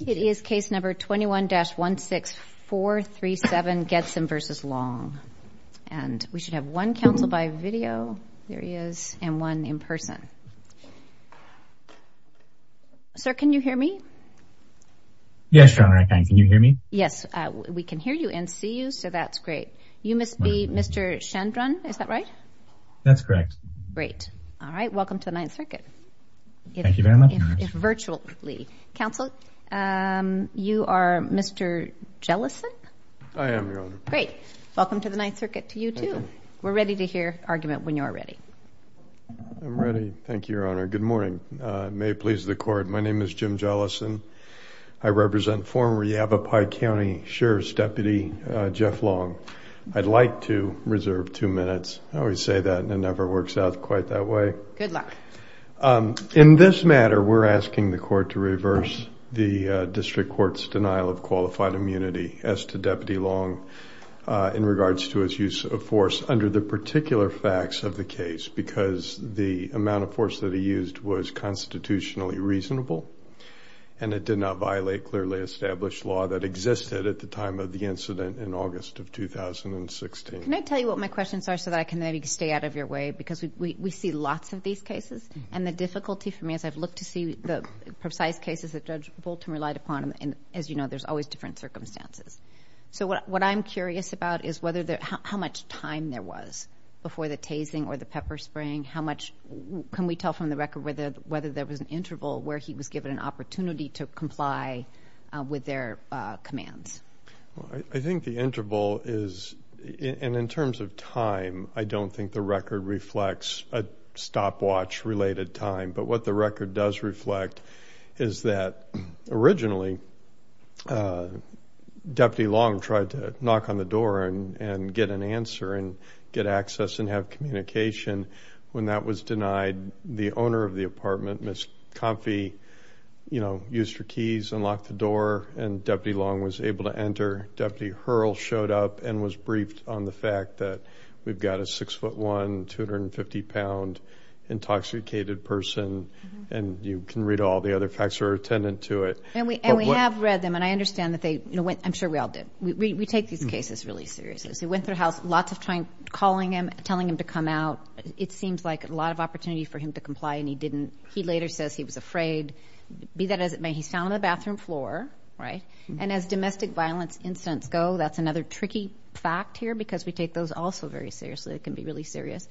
It is case number 21-16437 Getzen v. Long and we should have one counsel by video there he is and one in person. Sir, can you hear me? Yes, Your Honor, I can. Can you hear me? Yes, we can hear you and see you so that's great. You must be Mr. Chandran, is that right? That's correct. Great. All right, welcome to the Ninth Circuit. Thank you very much. If virtually. Counsel, you are Mr. Jellison? I am, Your Honor. Great. Welcome to the Ninth Circuit. To you too. We're ready to hear argument when you're ready. I'm ready. Thank you, Your Honor. Good morning. May it please the court. My name is Jim Jellison. I represent former Yavapai County Sheriff's Deputy Jeff Long. I'd like to reserve two minutes. I always say that and it never works out quite that way. Good luck. In this matter, we're asking the court to reverse the district court's denial of qualified immunity as to Deputy Long in regards to his use of force under the particular facts of the case because the amount of force that he used was constitutionally reasonable and it did not violate clearly established law that existed at the time of the incident in August of 2016. Can I tell you what my questions are so that I can maybe stay out of your way because we see lots of these cases and the difficulty for me as I've looked to see the precise cases that Judge Bolton relied upon and as you know there's always different circumstances. So what I'm curious about is whether there how much time there was before the tasing or the pepper spraying. How much can we tell from the record whether whether there was an interval where he was given an opportunity to comply with their commands? I think the interval is and in terms of time, I don't think the record reflects a stopwatch related time but what the record does reflect is that originally Deputy Long tried to knock on the door and get an answer and get access and have communication. When that was denied, the owner of the apartment, Ms. Comfey, you know, used her keys and locked the door and Deputy Long was able to enter. Deputy Hurl showed up and was a six foot one, 250 pound intoxicated person and you can read all the other facts that are attendant to it. And we have read them and I understand that they, you know, I'm sure we all did. We take these cases really seriously. So he went through the house, lots of time calling him, telling him to come out. It seems like a lot of opportunity for him to comply and he didn't. He later says he was afraid, be that as it may, he's found on the bathroom floor, right? And as domestic violence incidents go, that's another tricky fact here because we take those also very seriously. It can be really serious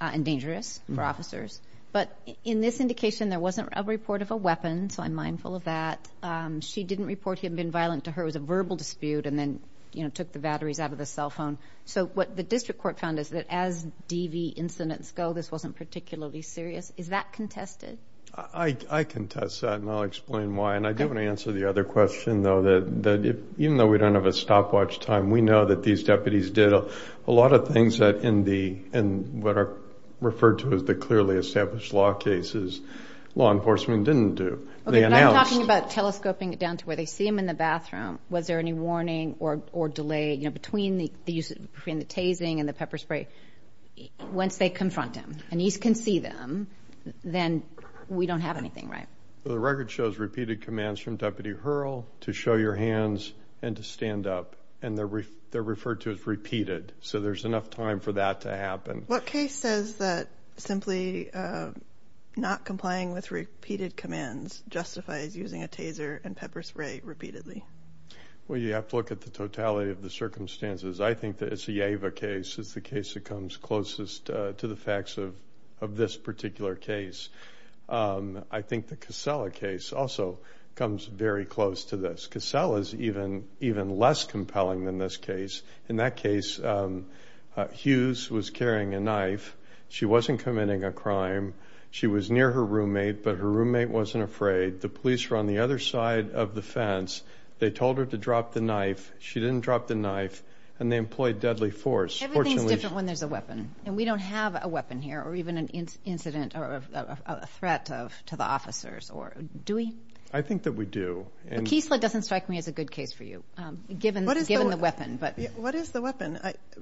and dangerous for officers. But in this indication, there wasn't a report of a weapon. So I'm mindful of that. She didn't report he had been violent to her. It was a verbal dispute and then, you know, took the batteries out of the cell phone. So what the district court found is that as DV incidents go, this wasn't particularly serious. Is that contested? I contest that and I'll explain why. And I do want to answer the other question though, that even though we don't have a stopwatch time, we know that these deputies did a lot of things that in the, in what are referred to as the clearly established law cases, law enforcement didn't do. Okay, but I'm talking about telescoping it down to where they see him in the bathroom. Was there any warning or delay, you know, between the use of the tasing and the pepper spray once they confront him and he can see them, then we don't have anything, right? The record shows repeated commands from Deputy Hurrell to show your hands and to stand up. And they're, they're referred to as repeated. So there's enough time for that to happen. What case says that simply not complying with repeated commands justifies using a taser and pepper spray repeatedly? Well, you have to look at the totality of the circumstances. I think that it's the Ava case is the case that comes closest to the facts of, of this particular case. Um, I think the Casella case also comes very close to this. Casella is even, even less compelling than this case. In that case, um, uh, Hughes was carrying a knife. She wasn't committing a crime. She was near her roommate, but her roommate wasn't afraid. The police were on the other side of the fence. They told her to drop the knife. She didn't drop the knife and they employed deadly force. Everything's different when there's a weapon and we don't have a weapon here or even incident or a threat of, to the officers or do we? I think that we do. And Casella doesn't strike me as a good case for you. Um, given, given the weapon, but what is the weapon?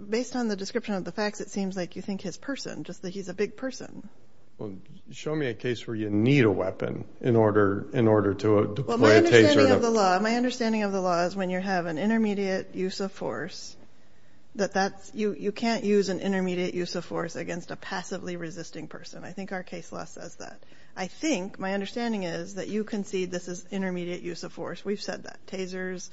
Based on the description of the facts, it seems like you think his person, just that he's a big person. Well, show me a case where you need a weapon in order, in order to deploy a taser. My understanding of the law is when you have an intermediate use of force that that's, you, you can't use an person. I think our case law says that. I think my understanding is that you concede this is intermediate use of force. We've said that tasers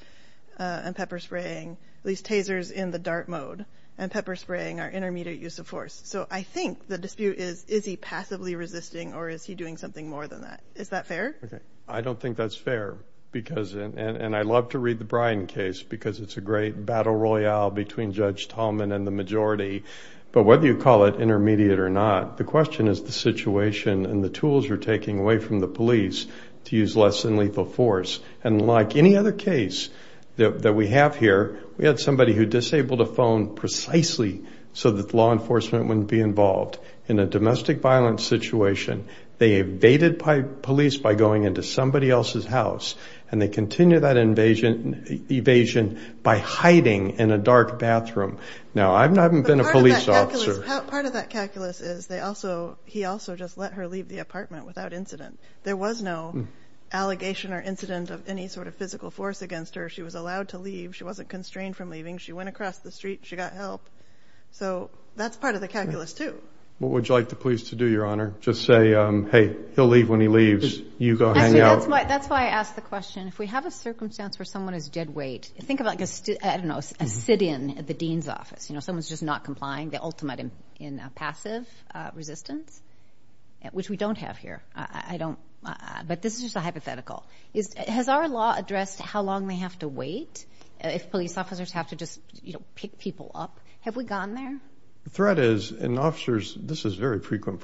and pepper spraying, at least tasers in the dart mode and pepper spraying are intermediate use of force. So I think the dispute is, is he passively resisting or is he doing something more than that? Is that fair? Okay. I don't think that's fair because, and I love to read the Brian case because it's a great battle royale between and the majority, but whether you call it intermediate or not, the question is the situation and the tools you're taking away from the police to use less than lethal force. And like any other case that we have here, we had somebody who disabled a phone precisely so that the law enforcement wouldn't be involved in a domestic violence situation. They evaded police by going into somebody else's house and they continue that invasion, evasion by hiding in a dark bathroom. Now I'm not, I haven't been a police officer. Part of that calculus is they also, he also just let her leave the apartment without incident. There was no allegation or incident of any sort of physical force against her. She was allowed to leave. She wasn't constrained from leaving. She went across the street, she got help. So that's part of the calculus too. What would you like the police to do, your honor? Just say, hey, he'll leave when he leaves. You go hang out. That's why I asked the question. If we have a circumstance where someone is dead weight, think about, I don't know, a sit-in at the Dean's office. You know, someone's just not complying the ultimate in passive resistance, which we don't have here. I don't, but this is just a hypothetical. Has our law addressed how long they have to wait if police officers have to just pick people up? Have we gotten there? The threat is, and officers, this is very on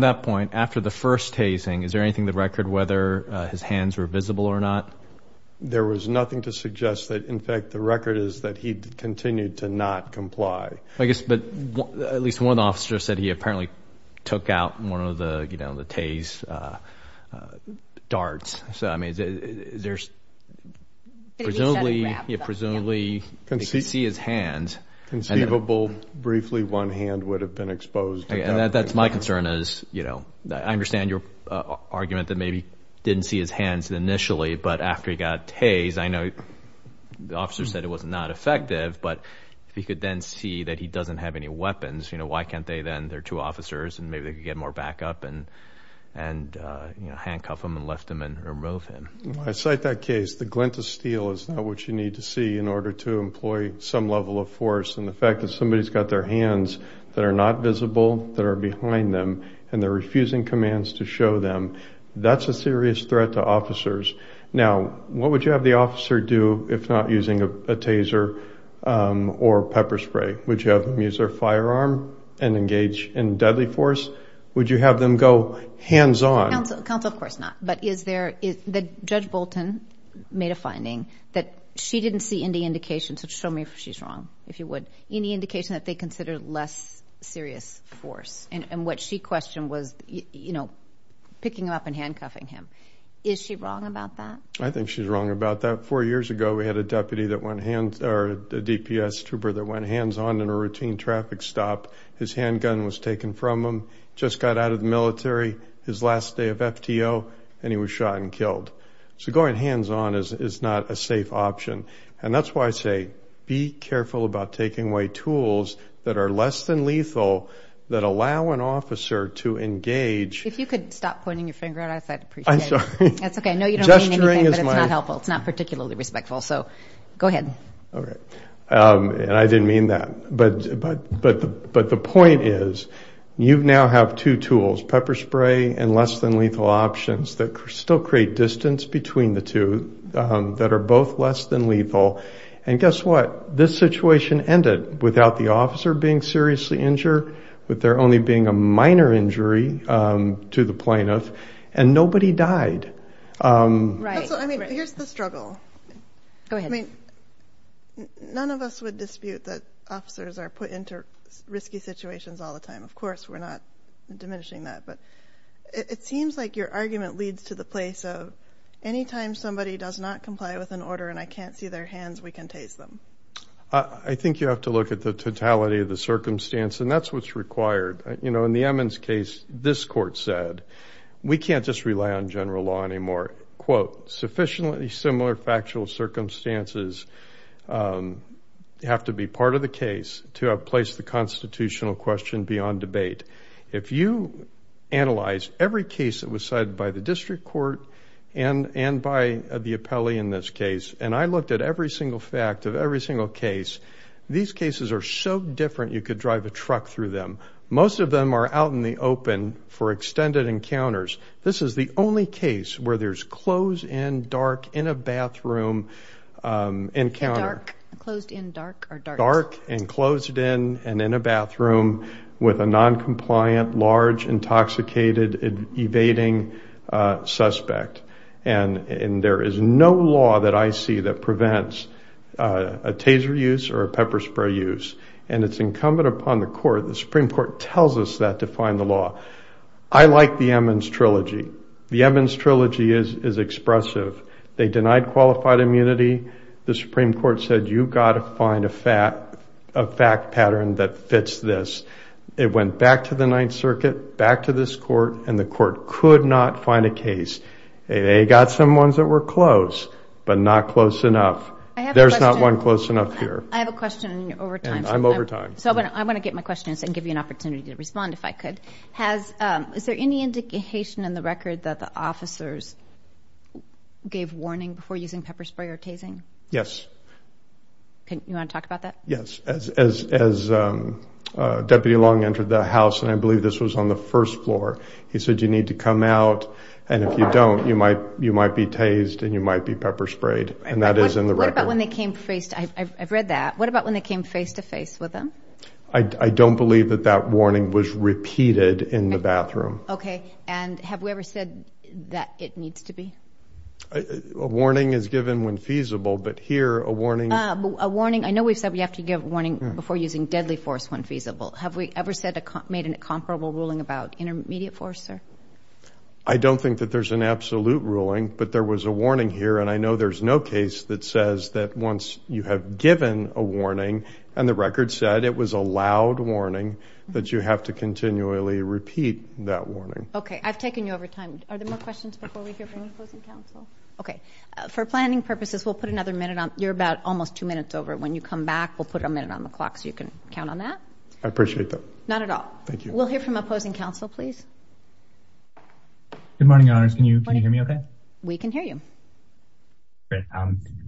that point, after the first tasing, is there anything, the record, whether his hands were visible or not? There was nothing to suggest that. In fact, the record is that he continued to not comply. I guess, but at least one officer said he apparently took out one of the, you know, the tase darts. So, I mean, there's presumably, presumably you can see his hands. Conceivable, briefly, one hand would have been exposed. That's my concern is, you know, I understand your argument that maybe didn't see his hands initially, but after he got tased, I know the officer said it was not effective, but if he could then see that he doesn't have any weapons, you know, why can't they then, they're two officers, and maybe they could get more backup and, you know, handcuff him and lift him and remove him. I cite that case. The glint of steel is not what you need to see in order to employ some level of force, and the fact that somebody's got their hands that are not visible, that are behind them, and they're refusing commands to show them, that's a serious threat to officers. Now, what would you have the officer do if not using a taser or pepper spray? Would you have them use their firearm and engage in deadly force? Would you have them go hands-on? Counsel, of course not, but is there, that Judge Bolton made a finding that she didn't see any indication, so show me if she's wrong, if you would, any indication that they considered less serious force, and what she questioned was, you know, picking him up and handcuffing him. Is she wrong about that? I think she's wrong about that. Four years ago, we had a deputy that went hands, or a DPS trooper that went hands-on in a routine traffic stop. His handgun was taken from him, just got out of the military, his last day of FTO, and he was shot and killed. So going hands-on is not a safe option, and that's why I say be careful about taking away tools that are less than lethal, that allow an officer to engage. If you could stop pointing your finger at us, I'd appreciate it. I'm sorry. That's okay, I know you don't mean anything, but it's not helpful, it's not particularly respectful, so go ahead. All right, and I didn't mean that, but the point is, you now have two tools, pepper spray and less than lethal options, that still create distance between the two, that are both less than lethal, and guess what? This situation ended without the officer being seriously injured, with there only being a minor injury to the plaintiff, and nobody died. Right. Also, I mean, here's the struggle. Go ahead. I mean, none of us would dispute that but it seems like your argument leads to the place of, anytime somebody does not comply with an order and I can't see their hands, we can tase them. I think you have to look at the totality of the circumstance, and that's what's required. You know, in the Emmons case, this court said, we can't just rely on general law anymore. Quote, sufficiently similar factual circumstances have to be part of the case to have placed the constitutional question beyond debate. If you analyze every case that was cited by the district court and by the appellee in this case, and I looked at every single fact of every single case, these cases are so different, you could drive a truck through them. Most of them are out in the open for extended encounters. This is the only case where there's closed in, dark, in a bathroom encounter. Dark, closed in, dark, or dark. And closed in and in a bathroom with a non-compliant, large, intoxicated, evading suspect. And there is no law that I see that prevents a taser use or a pepper spray use. And it's incumbent upon the court, the Supreme Court tells us that to find the law. I like the Emmons trilogy. The Emmons trilogy is expressive. They denied qualified immunity. The Supreme Court said, you've got to find a fact pattern that fits this. It went back to the Ninth Circuit, back to this court, and the court could not find a case. They got some ones that were close, but not close enough. There's not one close enough here. I have a question over time. I'm over time. So I want to get my question and give you an opportunity to respond if I could. Has, is there any indication in the record that the officers gave warning before using pepper spray or tasing? Yes. You want to talk about that? Yes. As Deputy Long entered the house, and I believe this was on the first floor, he said, you need to come out. And if you don't, you might be tased and you might be pepper sprayed. And that is in the record. What about when they came face to, I've read that. What about when they came face to face with them? I don't believe that that warning was repeated in the bathroom. Okay. And have we ever said that it needs to be? A warning is given when feasible, but here a warning. A warning. I know we've said we have to give a warning before using deadly force when feasible. Have we ever said, made an incomparable ruling about intermediate force, sir? I don't think that there's an absolute ruling, but there was a warning here. And I know there's no case that says that once you have given a warning and the record said it was a loud warning, that you have to continually repeat that warning. Okay. I've taken you over time. Are there more questions before we hear from opposing counsel? Okay. For planning purposes, we'll put another minute on. You're about almost two minutes over. When you come back, we'll put a minute on the clock so you can count on that. I appreciate that. Not at all. Thank you. We'll hear from opposing counsel, please. Good morning, Your Honors. Can you hear me okay? We can hear you. Great.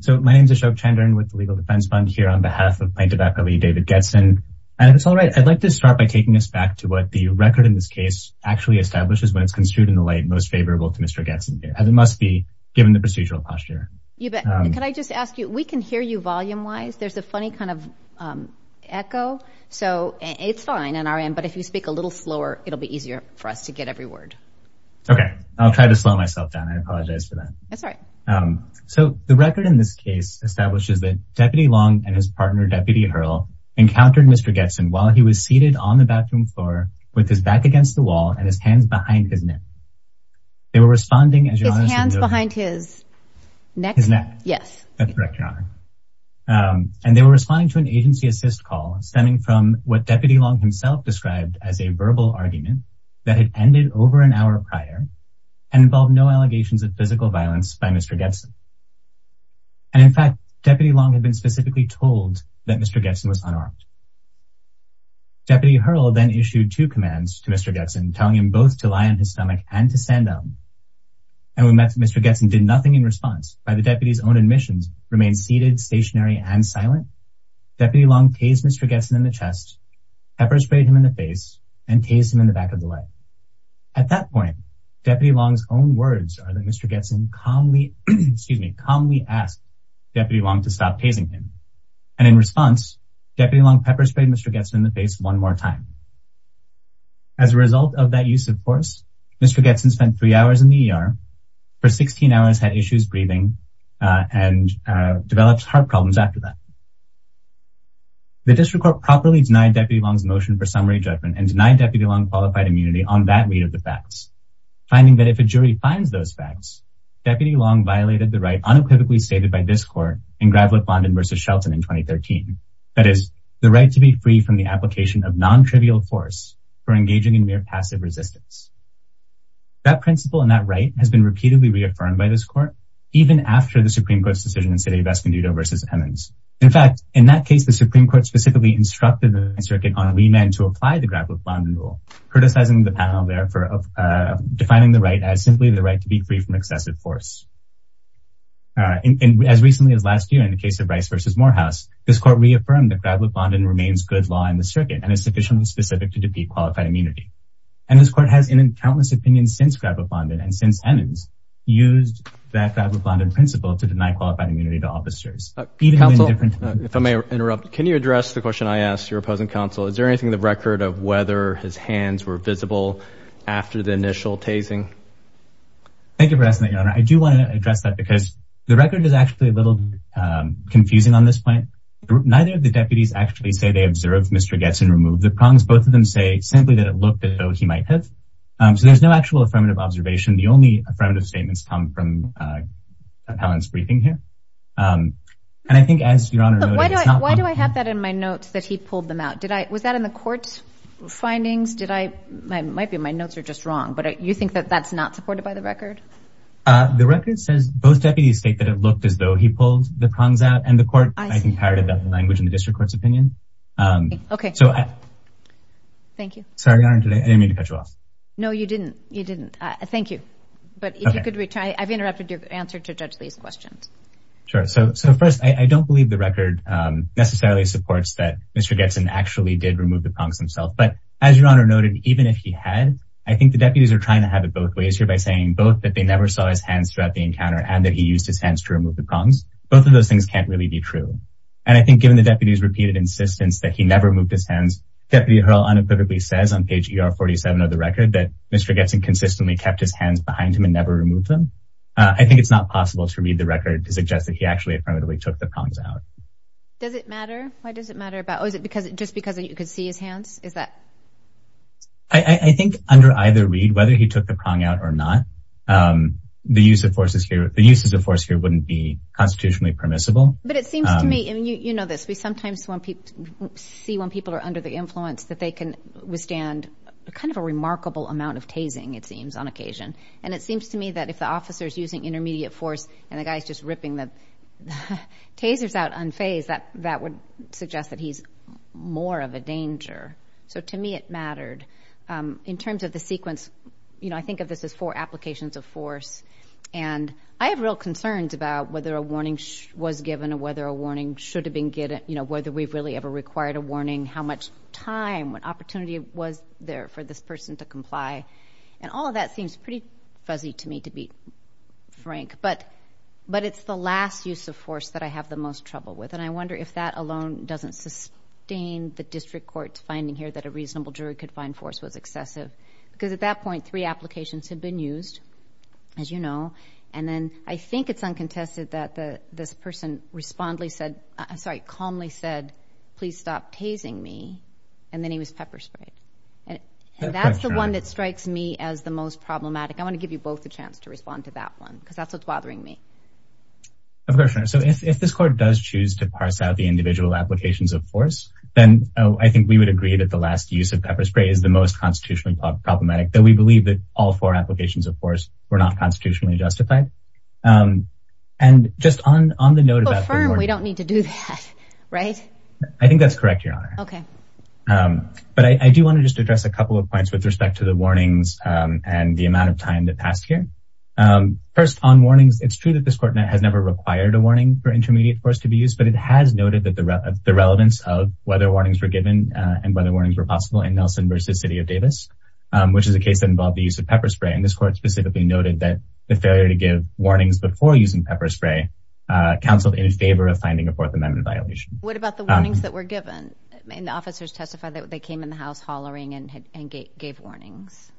So my name is Ashok Chandran with the Legal Defense Fund here on behalf of plaintiff David Getzen. And if it's all right, I'd like to start by taking us back to what the record in this case actually establishes when it's construed in the light most favorable to Mr. Getzen. It must be given the procedural posture. You bet. Can I just ask you, we can hear you volume-wise. There's a funny kind of echo. So it's fine on our end, but if you speak a little slower, it'll be easier for us to get every word. Okay. I'll try to slow myself down. I apologize for that. That's all right. So the record in this case establishes that Deputy Long and his partner, Deputy Hurl, encountered Mr. Getzen while he was seated on the bathroom floor with his back against the wall and his hands behind his neck. They were responding, as you honestly noted- His hands behind his neck? His neck. Yes. That's correct, Your Honor. And they were responding to an agency assist call stemming from what Deputy Long himself described as a verbal argument that had ended over an hour prior and involved no allegations of physical violence by Mr. Getzen. And in fact, Deputy Long had been specifically told that Mr. Getzen was unarmed. Deputy Hurl then issued two commands to Mr. Getzen, telling him both to lie on his stomach and to stand down. And when Mr. Getzen did nothing in response, by the deputy's own admissions, remained seated, stationary, and silent, Deputy Long tased Mr. Getzen in the chest, pepper-sprayed him in the face, and tased him in the back of the leg. At that point, Deputy Long's own words are that Mr. Getzen calmly, excuse me, calmly asked Deputy Long to stop tasing him. And in response, Deputy Long pepper-sprayed Mr. Getzen in the face one more time. As a result of that use of force, Mr. Getzen spent three hours in the ER, for 16 hours had issues breathing, and developed heart problems after that. The District Court properly denied Deputy Long's motion for summary judgment and denied Deputy Long qualified immunity on that read of the facts, finding that if a jury finds those facts, Deputy Long violated the right unequivocally stated by this court in Gravelet-London v. Shelton in 2013, that is, the right to be free from the application of non-trivial force for engaging in mere passive resistance. That principle and that right has been repeatedly reaffirmed by this court, even after the Supreme Court's decision in City of Escondido v. Emmons. In fact, in that case, the Supreme Court specifically instructed the circuit on remand to apply the Gravelet-London rule, criticizing the panel there for defining the right as simply the right to be free from excessive force. As recently as last year, in the case of Rice v. Morehouse, this court reaffirmed that Gravelet-London remains good law in the circuit and is sufficiently specific to defeat qualified immunity. And this court has in countless opinions since Gravelet-London and since Emmons, used that Gravelet-London principle to deny qualified immunity to officers. Counsel, if I may interrupt, can you address the question I asked your opposing counsel? Is there anything in the record of whether his hands were visible after the initial tasing? Thank you for asking that, Your Honor. I do want to address that because the record is actually a little confusing on this point. Neither of the deputies actually say they observed Mr. Getson remove the prongs. Both of them say simply that it looked as though he might have. So there's no actual affirmative observation. The only affirmative statements come from Appellant's and I think as Your Honor noted. Why do I have that in my notes that he pulled them out? Did I, was that in the court's findings? Did I, might be my notes are just wrong, but you think that that's not supported by the record? The record says both deputies state that it looked as though he pulled the prongs out and the court, I think, parroted that language in the district court's opinion. Okay. So. Thank you. Sorry, Your Honor, I didn't mean to cut you off. No, you didn't. You didn't. Thank you. But if you could, I've interrupted your answer to judge these questions. Sure. So, so first I don't believe the record necessarily supports that Mr. Getson actually did remove the prongs himself. But as Your Honor noted, even if he had, I think the deputies are trying to have it both ways here by saying both that they never saw his hands throughout the encounter and that he used his hands to remove the prongs. Both of those things can't really be true. And I think given the deputy's repeated insistence that he never moved his hands, Deputy Hurl unequivocally says on page ER 47 of the record that Mr. Getson consistently kept his to suggest that he actually affirmatively took the prongs out. Does it matter? Why does it matter about, or is it because it just because you could see his hands? Is that? I think under either read, whether he took the prong out or not, the use of forces here, the uses of force here wouldn't be constitutionally permissible. But it seems to me, and you know this, we sometimes see when people are under the influence that they can withstand kind of a remarkable amount of tasing, it seems, on occasion. And it seems to me that if the officer's using intermediate force and the guy's just ripping the tasers out unfazed, that would suggest that he's more of a danger. So to me, it mattered. In terms of the sequence, you know, I think of this as four applications of force. And I have real concerns about whether a warning was given or whether a warning should have been given, you know, whether we've really ever required a warning, how much time, what opportunity was there for this person to comply? And all of that seems pretty fuzzy to me, to be frank. But it's the last use of force that I have the most trouble with. And I wonder if that alone doesn't sustain the district court's finding here that a reasonable jury could find force was excessive. Because at that point, three applications had been used, as you know. And then I think it's uncontested that this person calmly said, please stop tasing me. And then he pepper sprayed. And that's the one that strikes me as the most problematic. I want to give you both a chance to respond to that one, because that's what's bothering me. Of course. So if this court does choose to parse out the individual applications of force, then I think we would agree that the last use of pepper spray is the most constitutionally problematic, that we believe that all four applications of force were not constitutionally justified. And just on the note we don't need to do that, right? I think that's correct, Your Honor. But I do want to just address a couple of points with respect to the warnings and the amount of time that passed here. First, on warnings, it's true that this court has never required a warning for intermediate force to be used. But it has noted that the relevance of whether warnings were given and whether warnings were possible in Nelson v. City of Davis, which is a case that involved the use of pepper spray. And this court specifically noted that the failure to give warnings before using pepper spray counseled in favor of finding a Fourth Amendment violation. What about the warnings that were given? And the officers testified that they came in the house hollering and gave warnings.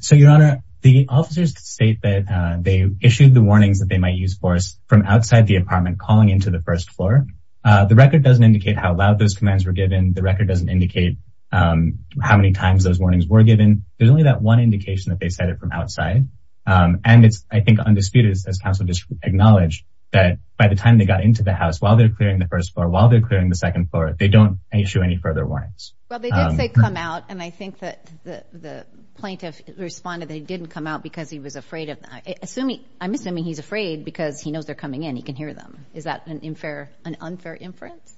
So, Your Honor, the officers state that they issued the warnings that they might use for us from outside the apartment calling into the first floor. The record doesn't indicate how loud those commands were given. The record doesn't indicate how many times those warnings were given. There's only that one indication that they said it from outside. And it's, I think, undisputed as counsel acknowledged that by the time they got into the house, while they're clearing the first floor, while they're clearing the second floor, they don't issue any further warnings. Well, they did say come out. And I think that the plaintiff responded they didn't come out because he was afraid of that. I'm assuming he's afraid because he knows they're coming in, he can hear them. Is that an unfair inference?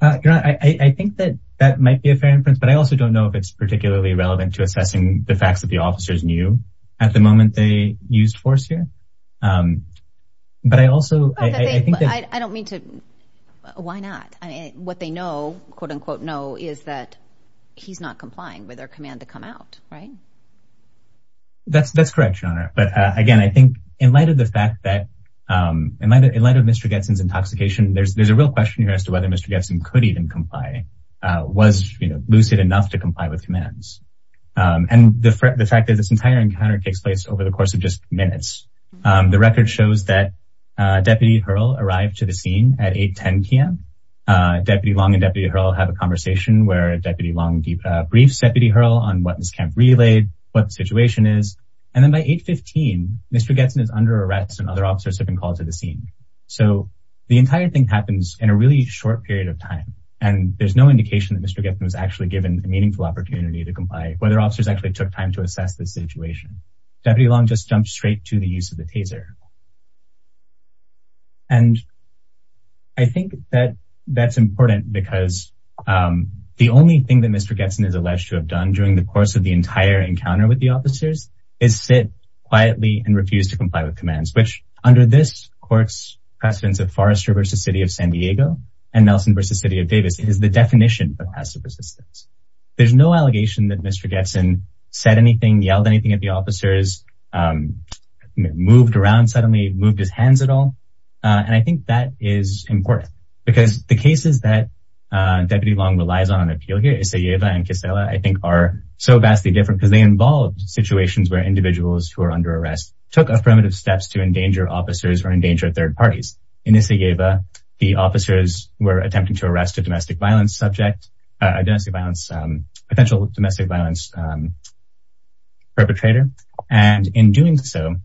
Your Honor, I think that that might be a fair inference. But I also don't know if it's particularly relevant to assessing the used force here. But I also... I don't mean to... Why not? What they know, quote unquote, know is that he's not complying with their command to come out, right? That's correct, Your Honor. But again, I think in light of the fact that, in light of Mr. Getson's intoxication, there's a real question here as to whether Mr. Getson could even comply, was lucid enough to comply with commands. And the fact that this entire encounter takes place over the course of just minutes. The record shows that Deputy Hurl arrived to the scene at 8.10pm. Deputy Long and Deputy Hurl have a conversation where Deputy Long briefs Deputy Hurl on what this camp relayed, what the situation is. And then by 8.15, Mr. Getson is under arrest and other officers have been called to the scene. So the entire thing happens in a really short period of time. And there's no indication that Mr. Getson was actually given a meaningful opportunity to comply, whether officers actually took time to assess the situation. Deputy Long just jumped straight to the use of the taser. And I think that that's important because the only thing that Mr. Getson is alleged to have done during the course of the entire encounter with the officers is sit quietly and refuse to comply with commands, which under this court's precedence of Forrester v. City of San Diego and Nelson v. City of Davis is the definition of passive resistance. There's no allegation that Mr. Getson said anything, yelled anything at the officers, moved around suddenly, moved his hands at all. And I think that is important because the cases that Deputy Long relies on an appeal here, Isayeva and Kisela, I think are so vastly different because they involved situations where individuals who are under arrest took affirmative steps to endanger officers or endanger third parties. In Isayeva, the officers were attempting to arrest a domestic violence subject, a domestic violence, potential domestic violence perpetrator. And in doing so,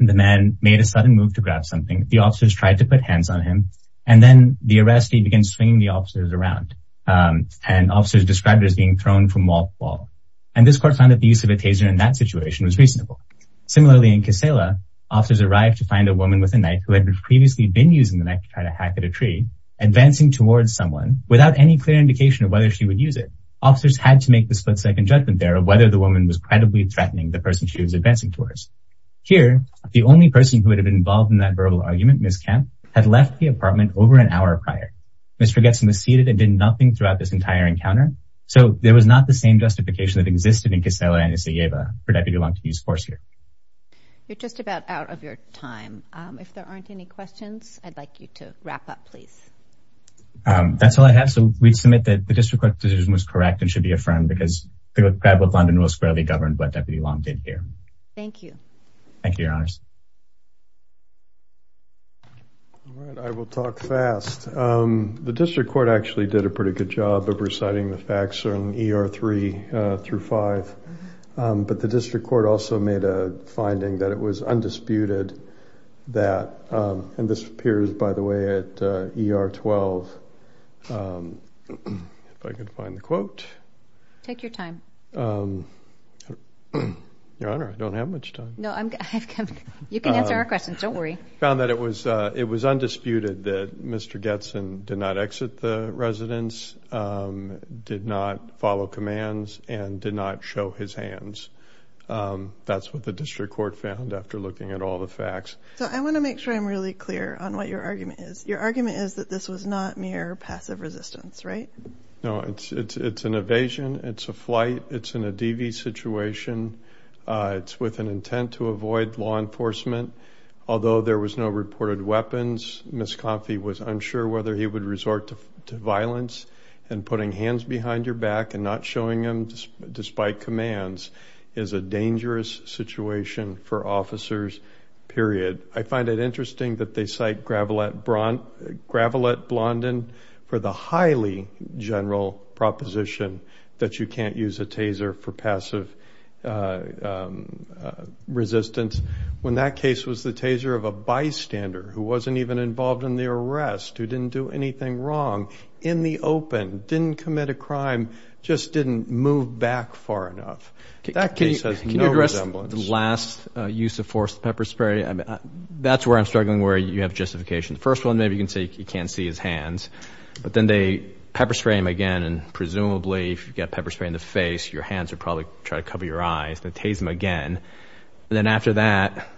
the man made a sudden move to grab something. The officers tried to put hands on him. And then the arrest, he began swinging the officers around and officers described as being thrown from wall to wall. And this court found that the use of a taser in that situation was reasonable. Similarly, in Kisela, officers arrived to find a woman with a knife who had previously been using the knife to try to hack at a tree advancing towards someone without any clear indication of whether she would use it. Officers had to make the split-second judgment there of whether the woman was credibly threatening the person she was advancing towards. Here, the only person who would have been involved in that verbal argument, Ms. Kemp, had left the apartment over an hour prior. Mr. Getson was seated and did nothing throughout this entire encounter. So there was not the same justification that existed in Kisela and Isayeva for Deputy Long to use force here. You're just about out of your time. If there aren't any questions, I'd like you to wrap up, please. That's all I have. So we'd submit that the district court's decision was correct and should be affirmed because the Grab with London Rule squarely governed what Deputy Long did here. Thank you. Thank you, Your Honors. All right, I will talk fast. The district court actually did a pretty good job of reciting the facts on ER 3 through 5. But the district court also made a finding that it was undisputed that, and this appears, by the way, at ER 12. If I could find the quote. Take your time. Your Honor, I don't have much time. No, you can answer our questions. Don't worry. It was undisputed that Mr. Getson did not exit the residence, did not follow commands, and did not show his hands. That's what the district court found after looking at all the facts. So I want to make sure I'm really clear on what your argument is. Your argument is that this was not mere passive resistance, right? No, it's an evasion. It's a flight. It's in a DV situation. It's with an intent to avoid law enforcement. Although there was no reported weapons, Ms. Confey was unsure whether he would resort to violence and putting hands behind your despite commands is a dangerous situation for officers, period. I find it interesting that they cite Gravelette Blondin for the highly general proposition that you can't use a taser for passive resistance when that case was the taser of a bystander who wasn't even involved in the arrest, who didn't do anything wrong, in the open, didn't commit a crime, just didn't move back far enough. That case has no resemblance. Can you address the last use of force with pepper spray? I mean, that's where I'm struggling where you have justification. The first one, maybe you can say he can't see his hands, but then they pepper spray him again and presumably if you've got pepper spray in the face, your hands would probably try to cover your eyes. They'd tase him again. Then after that,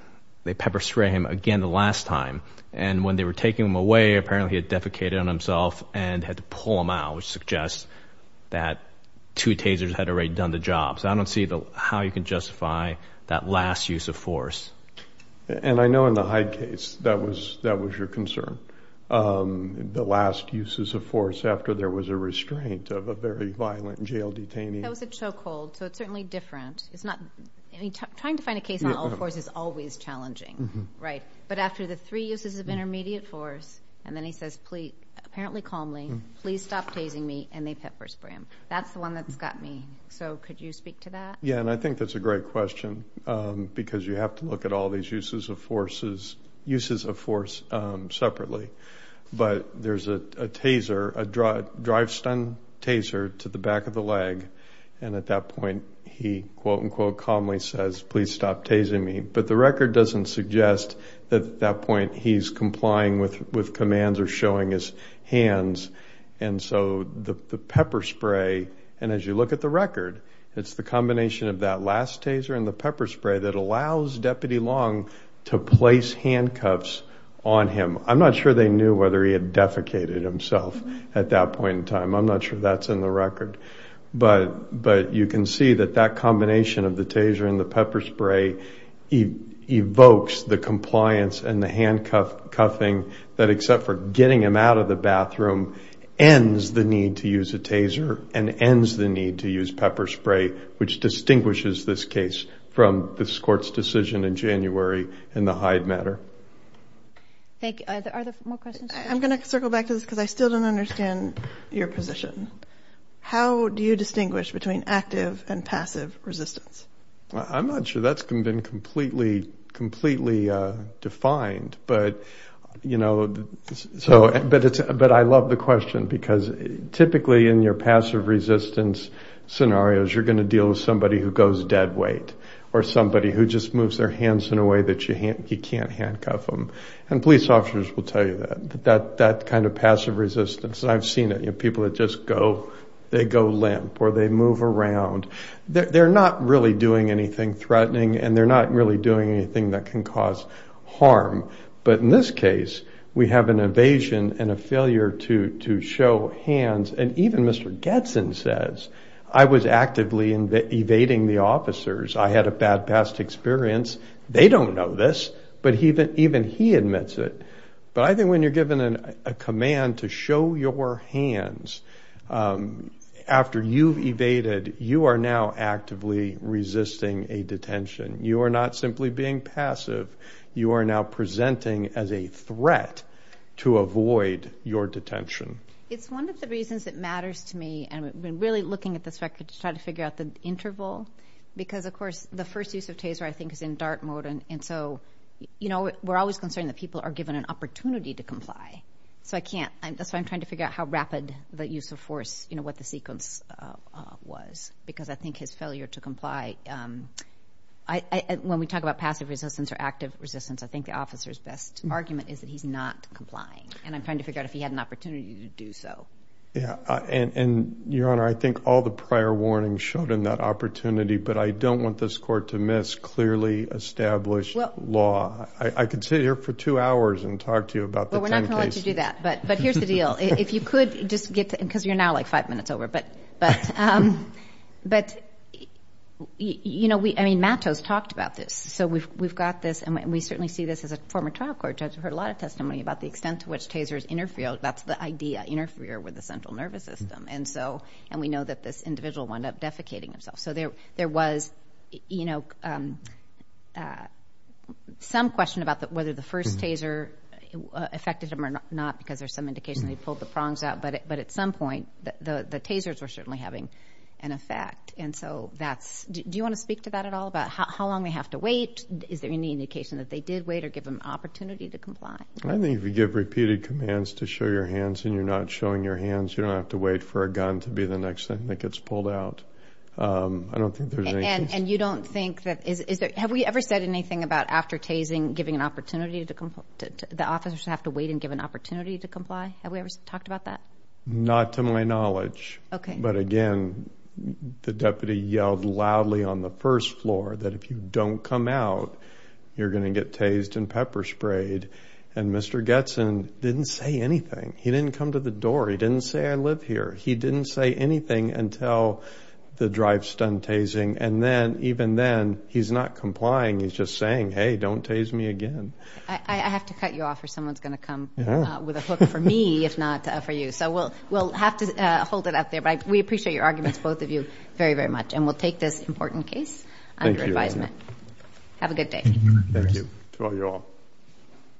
they pepper spray him again the last time. And when they were taking him away, apparently he had defecated on himself and had to pull him out, which suggests that two tasers had already done the job. So I don't see how you can justify that last use of force. And I know in the Hyde case, that was your concern, the last uses of force after there was a restraint of a very violent jail detainee. That was a chokehold, so it's certainly different. Trying to find a case on all forces is always challenging, right? But after the three uses of intermediate force, and then he says, apparently calmly, please stop tasing me, and they pepper spray him. That's the one that's got me. So could you speak to that? Yeah, and I think that's a great question because you have to look at all these uses of forces, uses of force separately. But there's a taser, a drive stun taser to the back of the leg. And at that point, he quote unquote calmly says, please stop tasing me. But the record doesn't suggest that at that point, he's complying with commands or showing his hands. And so the pepper spray, and as you look at the record, it's the combination of that last taser and the pepper spray that allows Deputy Long to place handcuffs on him. I'm not sure they knew whether he had defecated himself at that point in time. I'm not sure that's in the record. But you can see that combination of the taser and the pepper spray evokes the compliance and the handcuffing that, except for getting him out of the bathroom, ends the need to use a taser and ends the need to use pepper spray, which distinguishes this case from this Court's decision in January in the Hyde matter. Thank you. Are there more questions? I'm going to circle back to this because I still don't understand your position. How do you distinguish between active and passive resistance? I'm not sure that's been completely defined. But I love the question because typically in your passive resistance scenarios, you're going to deal with somebody who goes dead weight or somebody who just moves their hands in a way that you can't handcuff them. And police officers will tell you that kind of passive resistance. I've seen it. People that just go limp or they move around. They're not really doing anything threatening and they're not really doing anything that can cause harm. But in this case, we have an evasion and a failure to show hands. And even Mr. Getson says, I was actively evading the officers. I had a bad past experience. They don't know this, but even he admits it. But I think when you're given a command to show your hands after you've evaded, you are now actively resisting a detention. You are not simply being passive. You are now presenting as a threat to avoid your detention. It's one of the reasons that matters to me. And we've been really looking at this record to try to figure out the interval because, of course, the first use of taser, I think, is in dart mode. And so, you know, we're always concerned that people are given an opportunity to comply. So I can't. That's why I'm trying to figure out how rapid the use of force, you know, what the sequence was, because I think his failure to comply. When we talk about passive resistance or active resistance, I think the officer's best argument is that he's not complying. And I'm trying to figure out if he had an opportunity to do so. Yeah. And Your Honor, I think all the prior warnings showed him that opportunity. But I don't want this Court to miss clearly established law. I could sit here for two hours and talk to you about the 10 cases. Well, we're not going to let you do that. But here's the deal. If you could just get to, because you're now like five minutes over. But, you know, I mean, Matos talked about this. So we've got this, and we certainly see this as a former trial court judge. We've heard a lot of testimony about the extent to which tasers interfere. That's the idea, interfere with the central nervous system. And so, and we know that this individual wound up defecating himself. So there was, you know, some question about whether the first taser affected him or not, because there's some indication they pulled the prongs out. But at some point, the tasers were certainly having an effect. And so that's, do you want to speak to that at all? About how long they have to wait? Is there any indication that they did wait or give them opportunity to comply? I think if you give repeated commands to show your hands and you're not showing your hands, you don't have to wait for a gun to be the next thing that gets pulled out. I don't think there's anything. And you don't think that, is there, have we ever said anything about after tasing, giving an opportunity to comply, the officers have to wait and give an opportunity to comply? Have we ever talked about that? Not to my knowledge. Okay. But again, the deputy yelled loudly on the first floor that if you don't come out, you're going to get tased and pepper sprayed. And Mr. Getson didn't say anything. He didn't come to the door. He didn't say I live here. He didn't say anything until the drive stunt tasing. And then even then, he's not complying. He's just saying, hey, don't tase me again. I have to cut you off or someone's going to come with a hook for me, if not for you. So we'll have to hold it up there. But we appreciate your arguments, both of you very, very much. And we'll take this important case under advisement. Have a good day. Thank you. To all you all.